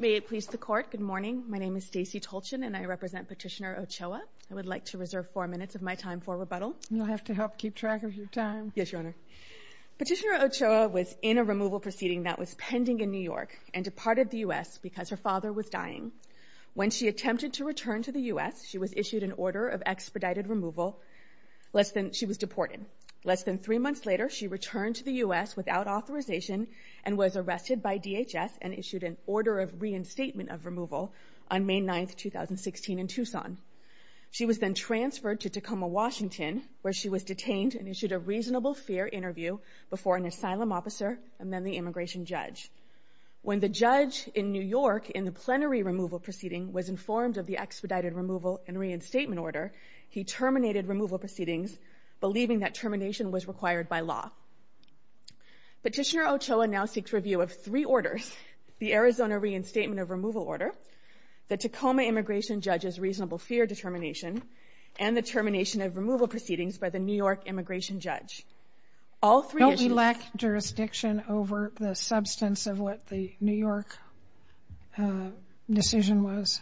May it please the Court, good morning. My name is Stacey Tolchin and I represent Petitioner Ochoa. I would like to reserve four minutes of my time for rebuttal. You'll have to help keep track of your time. Yes, Your Honor. Petitioner Ochoa was in a removal proceeding that was pending in New York and departed the U.S. because her father was dying. When she attempted to return to the U.S., she was issued an order of expedited removal, less than, she was deported. Less than three months later, she returned to the U.S. without authorization and was arrested by DHS and issued an order of reinstatement of removal on May 9th, 2016 in Tucson. She was then transferred to Tacoma, Washington where she was detained and issued a reasonable fair interview before an asylum officer and then the immigration judge. When the judge in New York in the plenary removal proceeding was informed of the expedited removal and reinstatement order, he terminated removal proceedings believing that termination was required by law. Petitioner the Arizona reinstatement of removal order, the Tacoma immigration judge's reasonable fear determination, and the termination of removal proceedings by the New York immigration judge. All three issues... Don't we lack jurisdiction over the substance of what the New York decision was?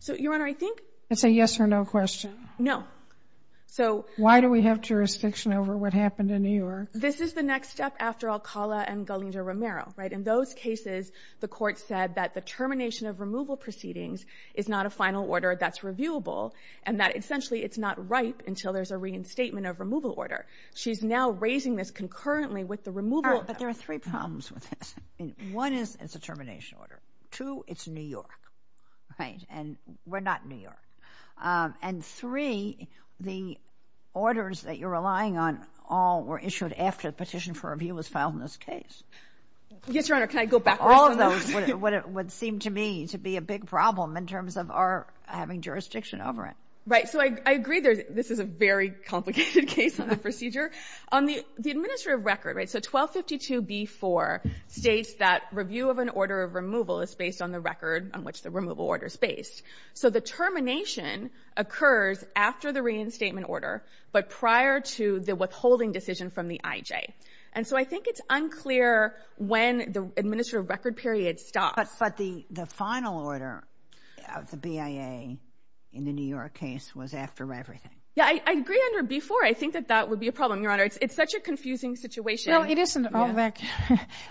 So, Your Honor, I think... It's a yes or no question. No. So... Why do we have jurisdiction over what happened in New York? This is the next step after Alcala and Galindo-Romero, right? In those cases, the court said that the termination of removal proceedings is not a final order that's reviewable and that essentially it's not ripe until there's a reinstatement of removal order. She's now raising this concurrently with the removal... But there are three problems with this. One is it's a termination order. Two, it's New York, right? And we're not in New York. And three, the orders that you're relying on all were issued after the petition for review was rejected. All of those would seem to me to be a big problem in terms of our having jurisdiction over it. Right. So, I agree this is a very complicated case on the procedure. On the administrative record, right? So, 1252b4 states that review of an order of removal is based on the record on which the removal order is based. So, the termination occurs after the reinstatement order, but prior to the withholding decision from the IJ. And so, I think it's unclear when the record period stops. But the final order of the BIA in the New York case was after everything. Yeah, I agree under b4. I think that that would be a problem, Your Honor. It's such a confusing situation. Well, it isn't all that...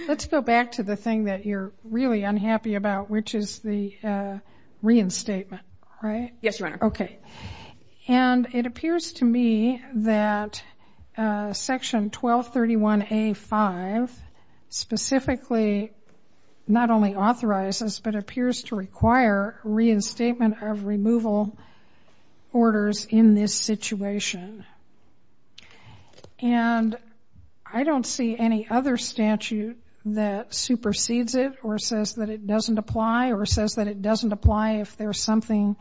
Let's go back to the thing that you're really unhappy about, which is the reinstatement, right? Yes, Your Honor. Okay. And it appears to me that Section 1231a5 specifically not only authorizes, but appears to require reinstatement of removal orders in this situation. And I don't see any other statute that supersedes it or says that it doesn't apply or says that it doesn't apply if there's something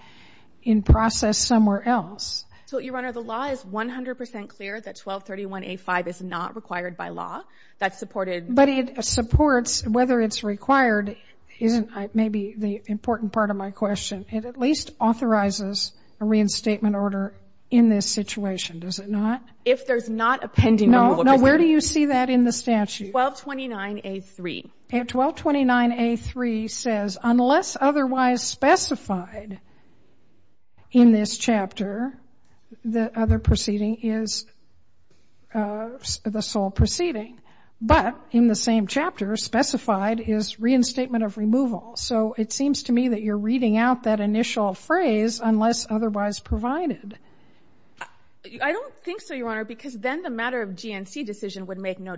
in process somewhere else. So, Your Honor, the law is 100% clear that 1231a5 is not required by law. That's supported... But it supports, whether it's required, isn't maybe the important part of my question. It at least authorizes a reinstatement order in this situation, does it not? If there's not a pending removal... No, where do you see that in the statute? 1229a3. 1229a3 says, unless otherwise specified in this chapter, the other proceeding is the sole proceeding. But in the same chapter, specified is reinstatement of removal. So it seems to me that you're reading out that initial phrase, unless otherwise provided. I don't think so, Your Honor, because then the matter of GNC decision would make no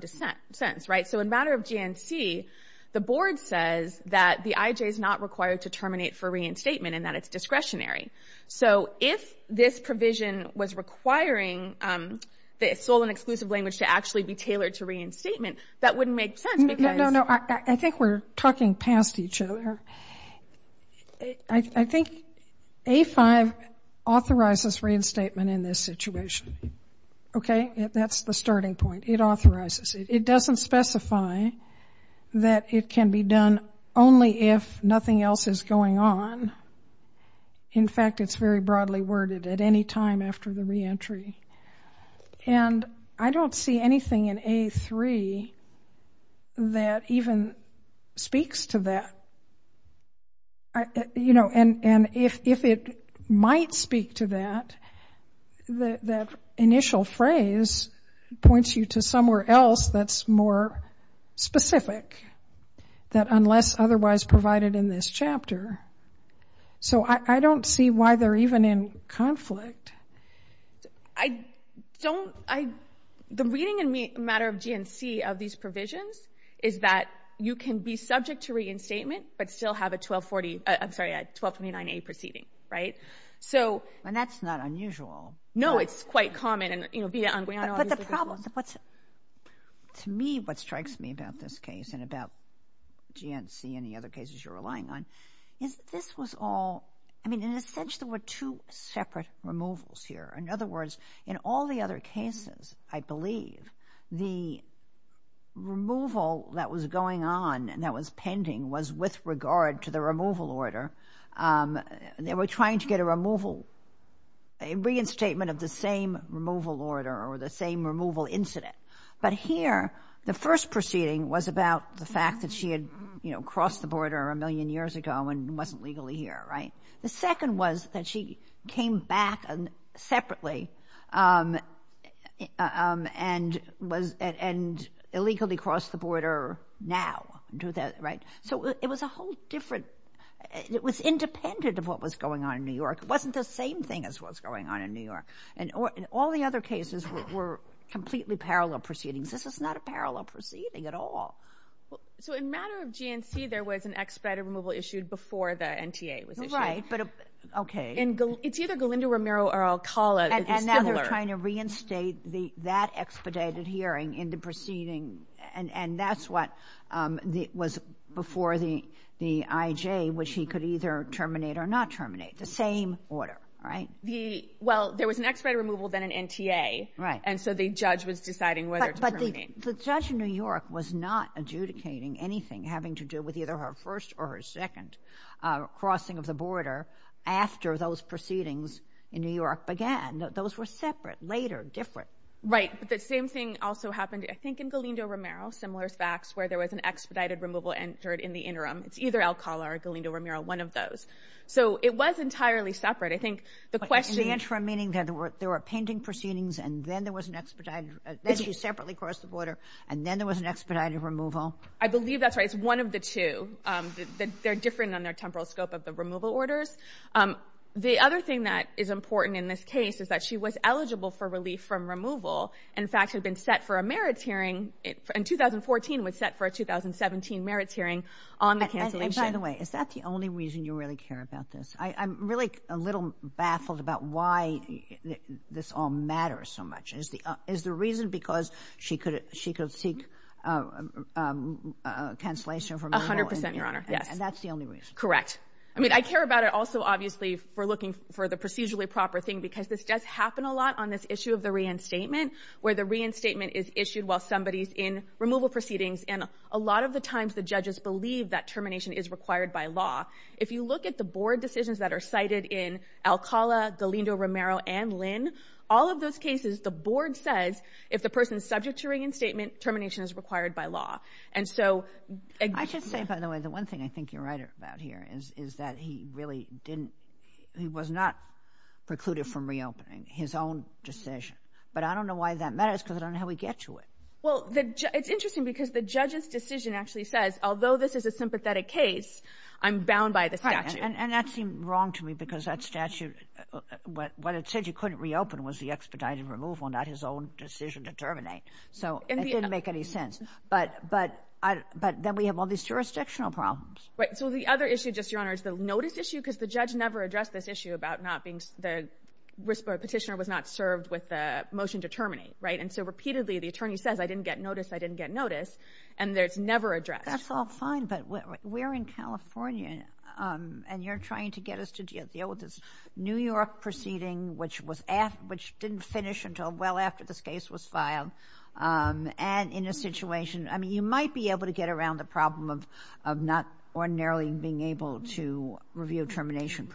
sense, right? So in matter of GNC, the board says that the IJ is not required to terminate for reinstatement and that it's discretionary. So if this provision was requiring the sole and exclusive language to actually be tailored to reinstatement, that wouldn't make sense because... No, no, no. I think we're talking past each other. I think a5 authorizes reinstatement in this situation. Okay. That's the starting point. It authorizes it. It doesn't specify that it can be done only if nothing else is going on. In fact, it's very broadly worded, at any time after the reentry. And I don't see anything in a3 that even speaks to that. And if it might speak to that, that initial phrase points you to somewhere else that's more specific, that unless otherwise provided in this chapter. So I don't see why they're even in conflict. The reading in matter of GNC of these provisions is that you can be subject to reinstatement, but still have a 1249A proceeding, right? And that's not unusual. No, it's quite common. To me, what strikes me about this case and about GNC and the other cases you're relying on, is this was all... I mean, in a sense, there were two separate removals here. In other words, in all the other cases, I believe, the removal that was going on and that was pending was with regard to the removal order. They were trying to get a removal, a reinstatement of the same removal order or the same removal incident. But here, the first proceeding was about the fact that she had crossed the border a million years ago and wasn't legally here, right? The second was that she came back separately and illegally crossed the border now, right? So it was a whole different... It was independent of what was going on in New York. It wasn't the same thing as what's going on in New York. And all the other cases were completely parallel proceedings. This is not a parallel proceeding at all. So in matter of GNC, there was an expedited removal issued before the NTA was issued. Right, but... Okay. It's either Galindo, Romero, or Alcala. It's similar. And now they're trying to reinstate that expedited hearing in the proceeding, and that's what was before the IJ, which he could either terminate or not terminate. The same order, right? Well, there was an expedited removal, then an NTA. Right. And so the judge was deciding whether to terminate. But the judge in New York was not adjudicating anything having to do with either her first or her second crossing of the border after those proceedings in New York began. Those were separate, later, different. Right. But the same thing also happened, I think, in Galindo, Romero, similar facts, where there was an expedited removal entered in the interim. It's either Alcala or Galindo, Romero, one of those. So it was entirely separate. I think the question... But in the interim, meaning that there were pending proceedings, and then there was an expedited... Then she separately crossed the border, and then there was an expedited removal? I believe that's right. It's one of the two. They're different on their temporal scope of the removal orders. The other thing that is important in this case is that she was eligible for In fact, she had been set for a merits hearing in 2014, was set for a 2017 merits hearing on the cancellation. And by the way, is that the only reason you really care about this? I'm really a little baffled about why this all matters so much. Is the reason because she could seek cancellation of her removal? A hundred percent, Your Honor, yes. And that's the only reason? Correct. I mean, I care about it also, obviously, for looking for the procedurally proper thing, because this does happen a lot on this issue of the reinstatement, where the reinstatement is issued while somebody's in removal proceedings, and a lot of the times the judges believe that termination is required by law. If you look at the board decisions that are cited in Alcala, Galindo, Romero, and Lynn, all of those cases, the board says if the person's subject to reinstatement, termination is required by law. And so... I should say, by the way, the one thing I think you're right about here is that he really didn't... He was not precluded from reopening. His own decision. But I don't know why that matters, because I don't know how we get to it. Well, it's interesting, because the judge's decision actually says, although this is a sympathetic case, I'm bound by the statute. And that seemed wrong to me, because that statute, what it said you couldn't reopen was the expedited removal, not his own decision to terminate. So it didn't make any sense. But then we have all these jurisdictional problems. Right. So the other issue, just, Your Honor, is the notice issue, because the judge never addressed this issue about not being... The petitioner was not served with the motion to terminate, right? And so repeatedly the attorney says, I didn't get notice, I didn't get notice, and it's never addressed. That's all fine, but we're in California, and you're trying to get us to deal with this New York proceeding, which didn't finish until well after this case was filed, and in a situation... I mean, you might be able to get around the problem of not ordinarily being able to review termination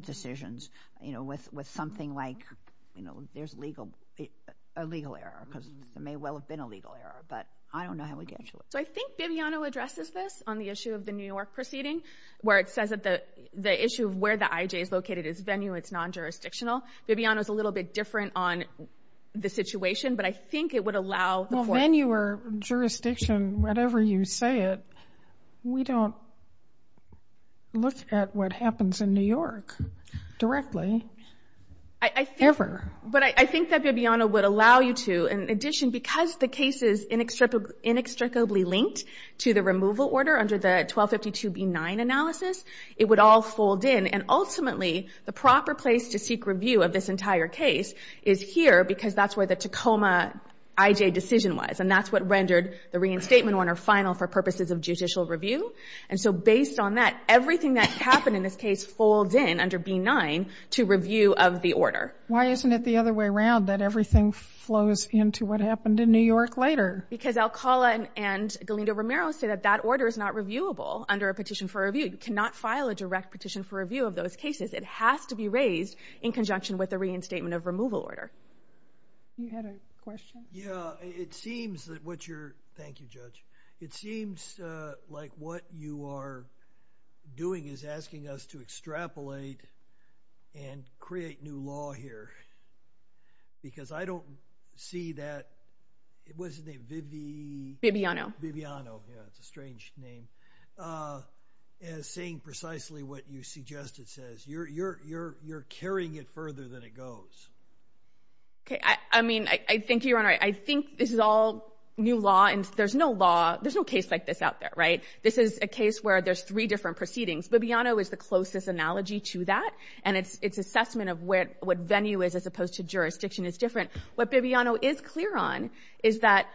decisions, you know, with something like, you know, there's a legal error, because there may well have been a legal error, but I don't know how we get to it. So I think Bibiano addresses this on the issue of the New York proceeding, where it says that the issue of where the IJ is located is venue, it's non-jurisdictional. Bibiano's a little bit different on the situation, but I think it would allow... Venue or jurisdiction, whatever you say it, we don't look at what happens in New York directly, ever. But I think that Bibiano would allow you to, in addition, because the case is inextricably linked to the removal order under the 1252B9 analysis, it would all fold in, and ultimately the proper place to seek review of this entire case is here, because that's where the Tacoma IJ decision was, and that's what rendered the reinstatement order final for purposes of judicial review. And so based on that, everything that happened in this case folds in under B9 to review of the order. Why isn't it the other way around, that everything flows into what happened in New York later? Because Alcala and Galindo-Romero say that that order is not reviewable under a petition for review. You cannot file a direct petition for review of those cases. It has to be raised in conjunction with a reinstatement of removal order. You had a question? Yeah. It seems that what you're... Thank you, Judge. It seems like what you are doing is asking us to extrapolate and create new law here, because I don't see that... What's his name? Bibby... Bibiano. Bibiano. Yeah, it's a strange name. As saying precisely what you suggest it says. You're carrying it further than it goes. Okay. I mean, I think you're right. I think this is all new law, and there's no law... There's no case like this out there, right? This is a case where there's three different proceedings. Bibiano is the closest analogy to that, and its assessment of what venue is as opposed to jurisdiction is different. What Bibiano is clear on is that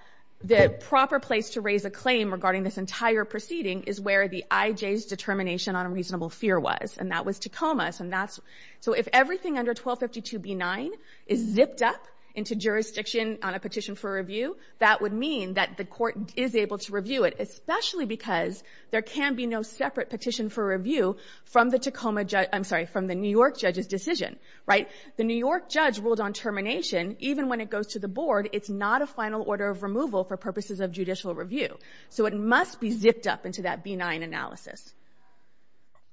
the proper place to raise a claim regarding this entire proceeding is where the IJ's determination on a reasonable fear was, and that was Tacoma. So if everything under 1252 B-9 is zipped up into jurisdiction on a petition for review, that would mean that the court is able to review it, especially because there can be no separate petition for review from the New York judge's decision, right? The New York judge ruled on termination. Even when it goes to the board, it's not a final order of removal for purposes of judicial review. So it must be zipped up into that B-9 analysis.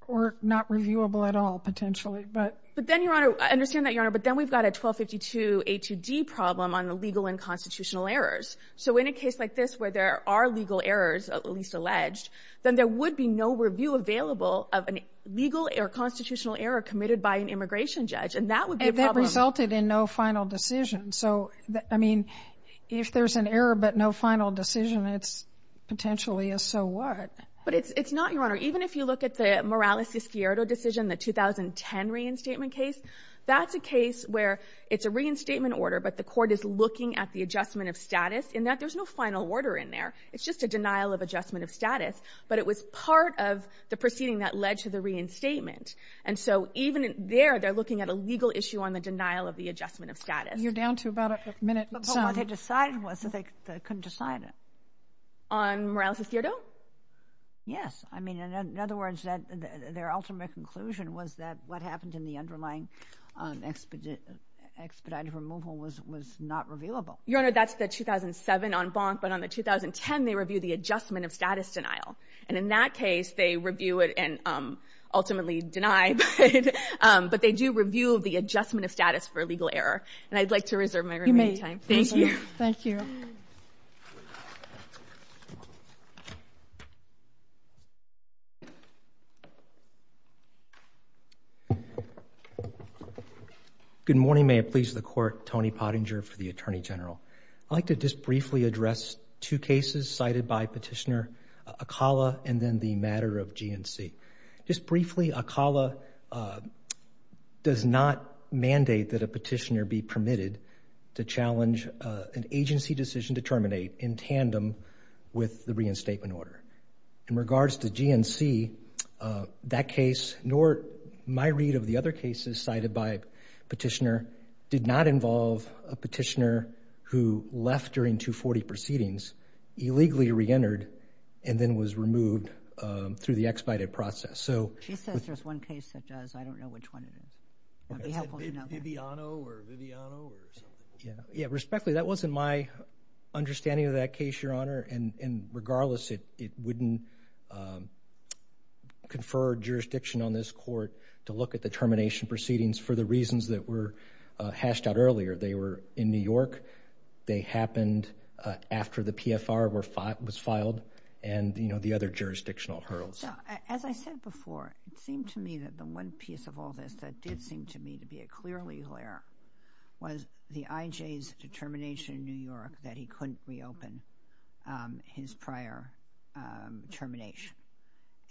Or not reviewable at all, potentially, but... But then, Your Honor, I understand that, Your Honor, but then we've got a 1252 A-2-D problem on the legal and constitutional errors. So in a case like this where there are legal errors, at least alleged, then there would be no review available of a legal or constitutional error committed by an immigration judge, and that would be a problem. And that resulted in no final decision. So, I mean, if there's an error but no final decision, it's potentially a so what. But it's not, Your Honor. Even if you look at the Morales-Escuero decision, the 2010 reinstatement case, that's a case where it's a reinstatement order, but the court is looking at the adjustment of status. In that, there's no final order in there. It's just a denial of adjustment of status. But it was part of the proceeding that led to the reinstatement. And so even there, they're looking at a legal issue on the denial of the adjustment of status. You're down to about a minute and some. But what they decided was that they couldn't decide it. On Morales-Escuero? Yes. I mean, in other words, their ultimate conclusion was that what happened in the underlying expedited removal was not revealable. Your Honor, that's the 2007 en banc, but on the 2010, they reviewed the adjustment of status denial. And in that case, they review it and ultimately deny it. But they do review the adjustment of status for legal error. And I'd like to reserve my remaining time. Thank you. Thank you. Good morning. May it please the Court. Tony Pottinger for the Attorney General. I'd like to just briefly address two cases cited by Petitioner Acala and then the matter of GNC. Just briefly, Acala does not mandate that a petitioner be permitted to challenge an agency decision to terminate in tandem with the reinstatement order. In regards to GNC, that case, nor my read of the other cases cited by Petitioner, did not involve a petitioner who left during 240 proceedings, illegally reentered, and then was removed through the expedited process. So... She says there's one case that does. I don't know which one it is. It would be helpful to know. Viviano or Viviano or something. Yeah. Respectfully, that wasn't my understanding of that case, Your Honor. And regardless, it wouldn't confer jurisdiction on this Court to look at the termination proceedings for the reasons that were hashed out earlier. They were in New York. They happened after the PFR was filed and, you know, the other jurisdictional hurdles. As I said before, it seemed to me that the one piece of all this that did seem to me to be a clear legal error was the IJ's determination in New York that he couldn't reopen his prior termination.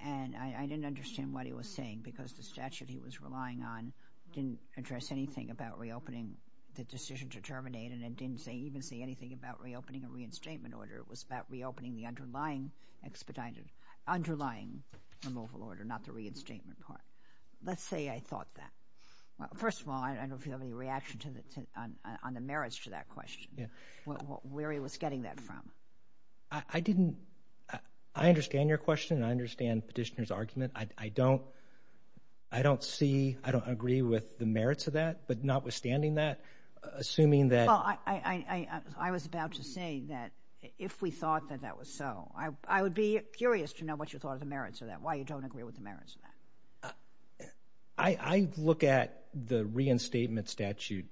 And I didn't understand what he was saying because the statute he was relying on didn't address anything about reopening the decision to terminate and it didn't even say anything about reopening a reinstatement order. It was about reopening the underlying expedited... underlying removal order, not the reinstatement part. Let's say I thought that. First of all, I don't know if you have any reaction on the merits to that question. Yeah. Where he was getting that from. I didn't... I understand your question and I understand Petitioner's argument. I don't... I don't see... I don't agree with the merits of that, but notwithstanding that, assuming that... Well, I was about to say that if we thought that that was so. I would be curious to know what you thought of the merits of that, why you don't agree with the merits of that. I look at the reinstatement statute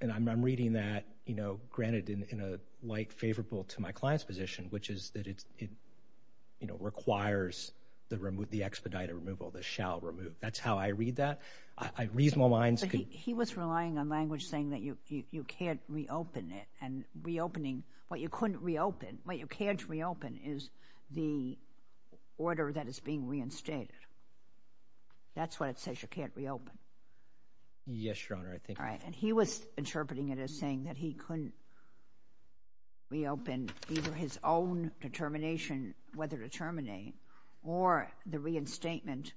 and I'm reading that, you know, granted in a light favorable to my client's position, which is that it, you know, requires the expedited removal, the shall remove. That's how I read that. Reasonable minds could... But he was relying on language saying that you can't reopen it and reopening what you couldn't reopen, what you can't reopen is the order that is being reinstated. That's what it says you can't reopen. Yes, Your Honor, I think... All right. And he was interpreting it as saying that he couldn't reopen either his own determination, whether to terminate, or the reinstatement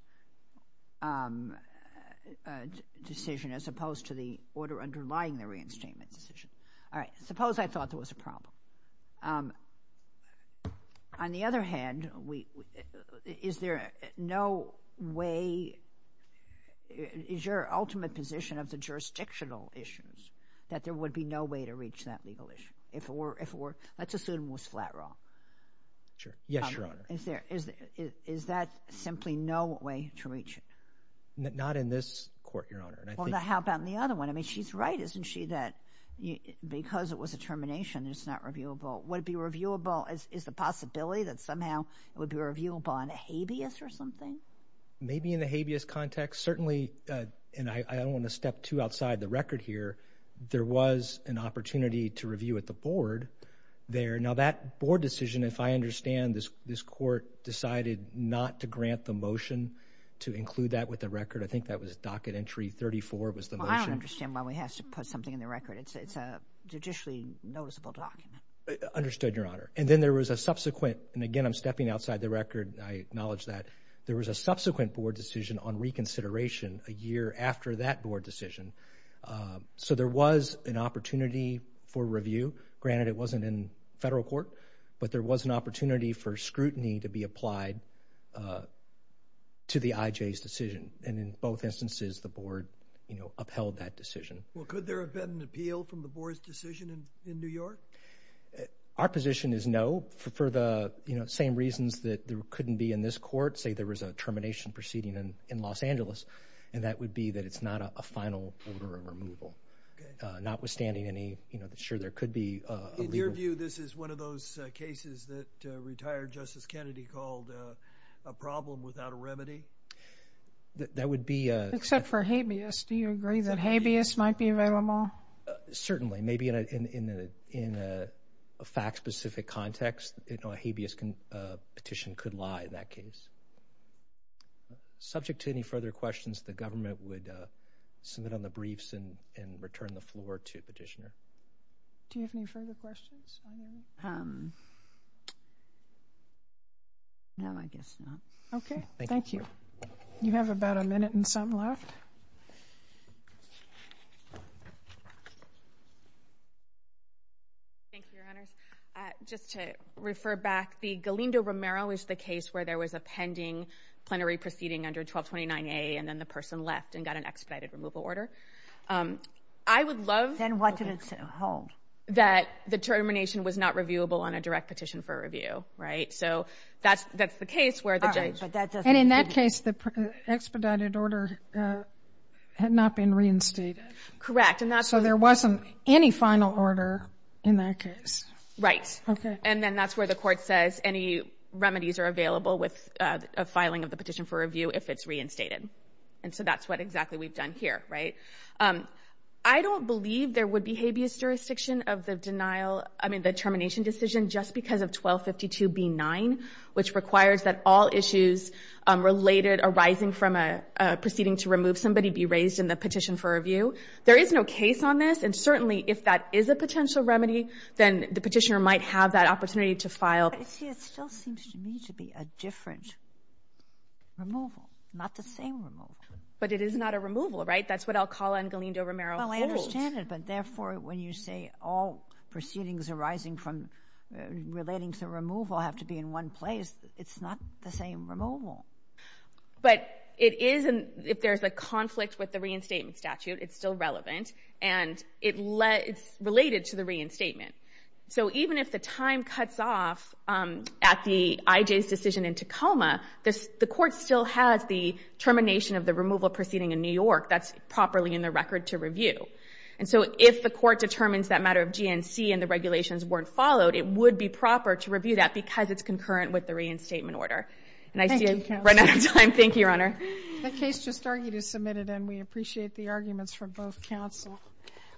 decision as opposed to the order underlying the reinstatement decision. All right. Suppose I thought there was a problem. On the other hand, is there no way... Is your ultimate position of the jurisdictional issues that there would be no way to reach that legal issue? If it were... Let's assume it was flat wrong. Sure. Yes, Your Honor. Is there... Is that simply no way to reach it? Not in this court, Your Honor, and I think... Well, how about in the other one? I mean, she's right, isn't she, that because it was a termination, it's not reviewable. Would it be reviewable... Is the possibility that somehow it would be reviewable in a habeas or something? Maybe in the habeas context. Certainly, and I don't want to step too outside the record here, there was an additional board there. Now, that board decision, if I understand, this court decided not to grant the motion to include that with the record. I think that was docket entry 34 was the motion. Well, I don't understand why we have to put something in the record. It's a judicially noticeable document. Understood, Your Honor. And then there was a subsequent... And again, I'm stepping outside the record. I acknowledge that. There was a subsequent board decision on reconsideration a year after that board decision. So, there was an opportunity for review. Granted, it wasn't in federal court, but there was an opportunity for scrutiny to be applied to the IJ's decision. And in both instances, the board upheld that decision. Well, could there have been an appeal from the board's decision in New York? Our position is no. For the same reasons that there couldn't be in this court, say there was a termination proceeding in Los Angeles, and that would be that it's not a final order of removal, notwithstanding any... Sure, there could be a legal... In your view, this is one of those cases that retired Justice Kennedy called a problem without a remedy? That would be... Except for habeas. Do you agree that habeas might be available? Certainly. Maybe in a fact-specific context, a habeas petition could lie in that case. Subject to any further questions, the government would submit on the briefs and return the floor to the petitioner. Do you have any further questions? No, I guess not. Okay. Thank you. You have about a minute and some left. Thank you, Your Honors. Just to refer back, the Galindo-Romero is the case where there was a pending plenary proceeding under 1229A, and then the person left and got an expedited removal order. I would love... Then what did it hold? That the termination was not reviewable on a direct petition for review, right? So that's the case where the judge... All right, but that doesn't... And in that case, the expedited order had not been reinstated. Correct. So there wasn't any final order in that case. Right. Okay. And then that's where the court says any remedies are available with a filing of the petition for review if it's reinstated. And so that's what exactly we've done here, right? I don't believe there would be habeas jurisdiction of the denial, I mean, the termination decision, just because of 1252B9, which requires that all issues related arising from a proceeding to remove somebody be raised in the petition for review. There is no case on this, and certainly if that is a potential remedy, then the petitioner might have that opportunity to file... But, you see, it still seems to me to be a different removal, not the same removal. But it is not a removal, right? That's what Alcala and Galindo-Romero hold. Well, I understand it, but therefore when you say all proceedings arising from relating to removal have to be in one place, it's not the same removal. But it is, if there's a conflict with the reinstatement statute, it's still relevant, and it's related to the reinstatement. So even if the time cuts off at the IJ's decision in Tacoma, the court still has the termination of the removal proceeding in New York, that's properly in the record to review. And so if the court determines that matter of GNC and the regulations weren't followed, it would be proper to review that because it's concurrent with the reinstatement order. Thank you, counsel. And I see we've run out of time. Thank you, Your Honor. The case just argued is submitted, and we appreciate the arguments from both counsel.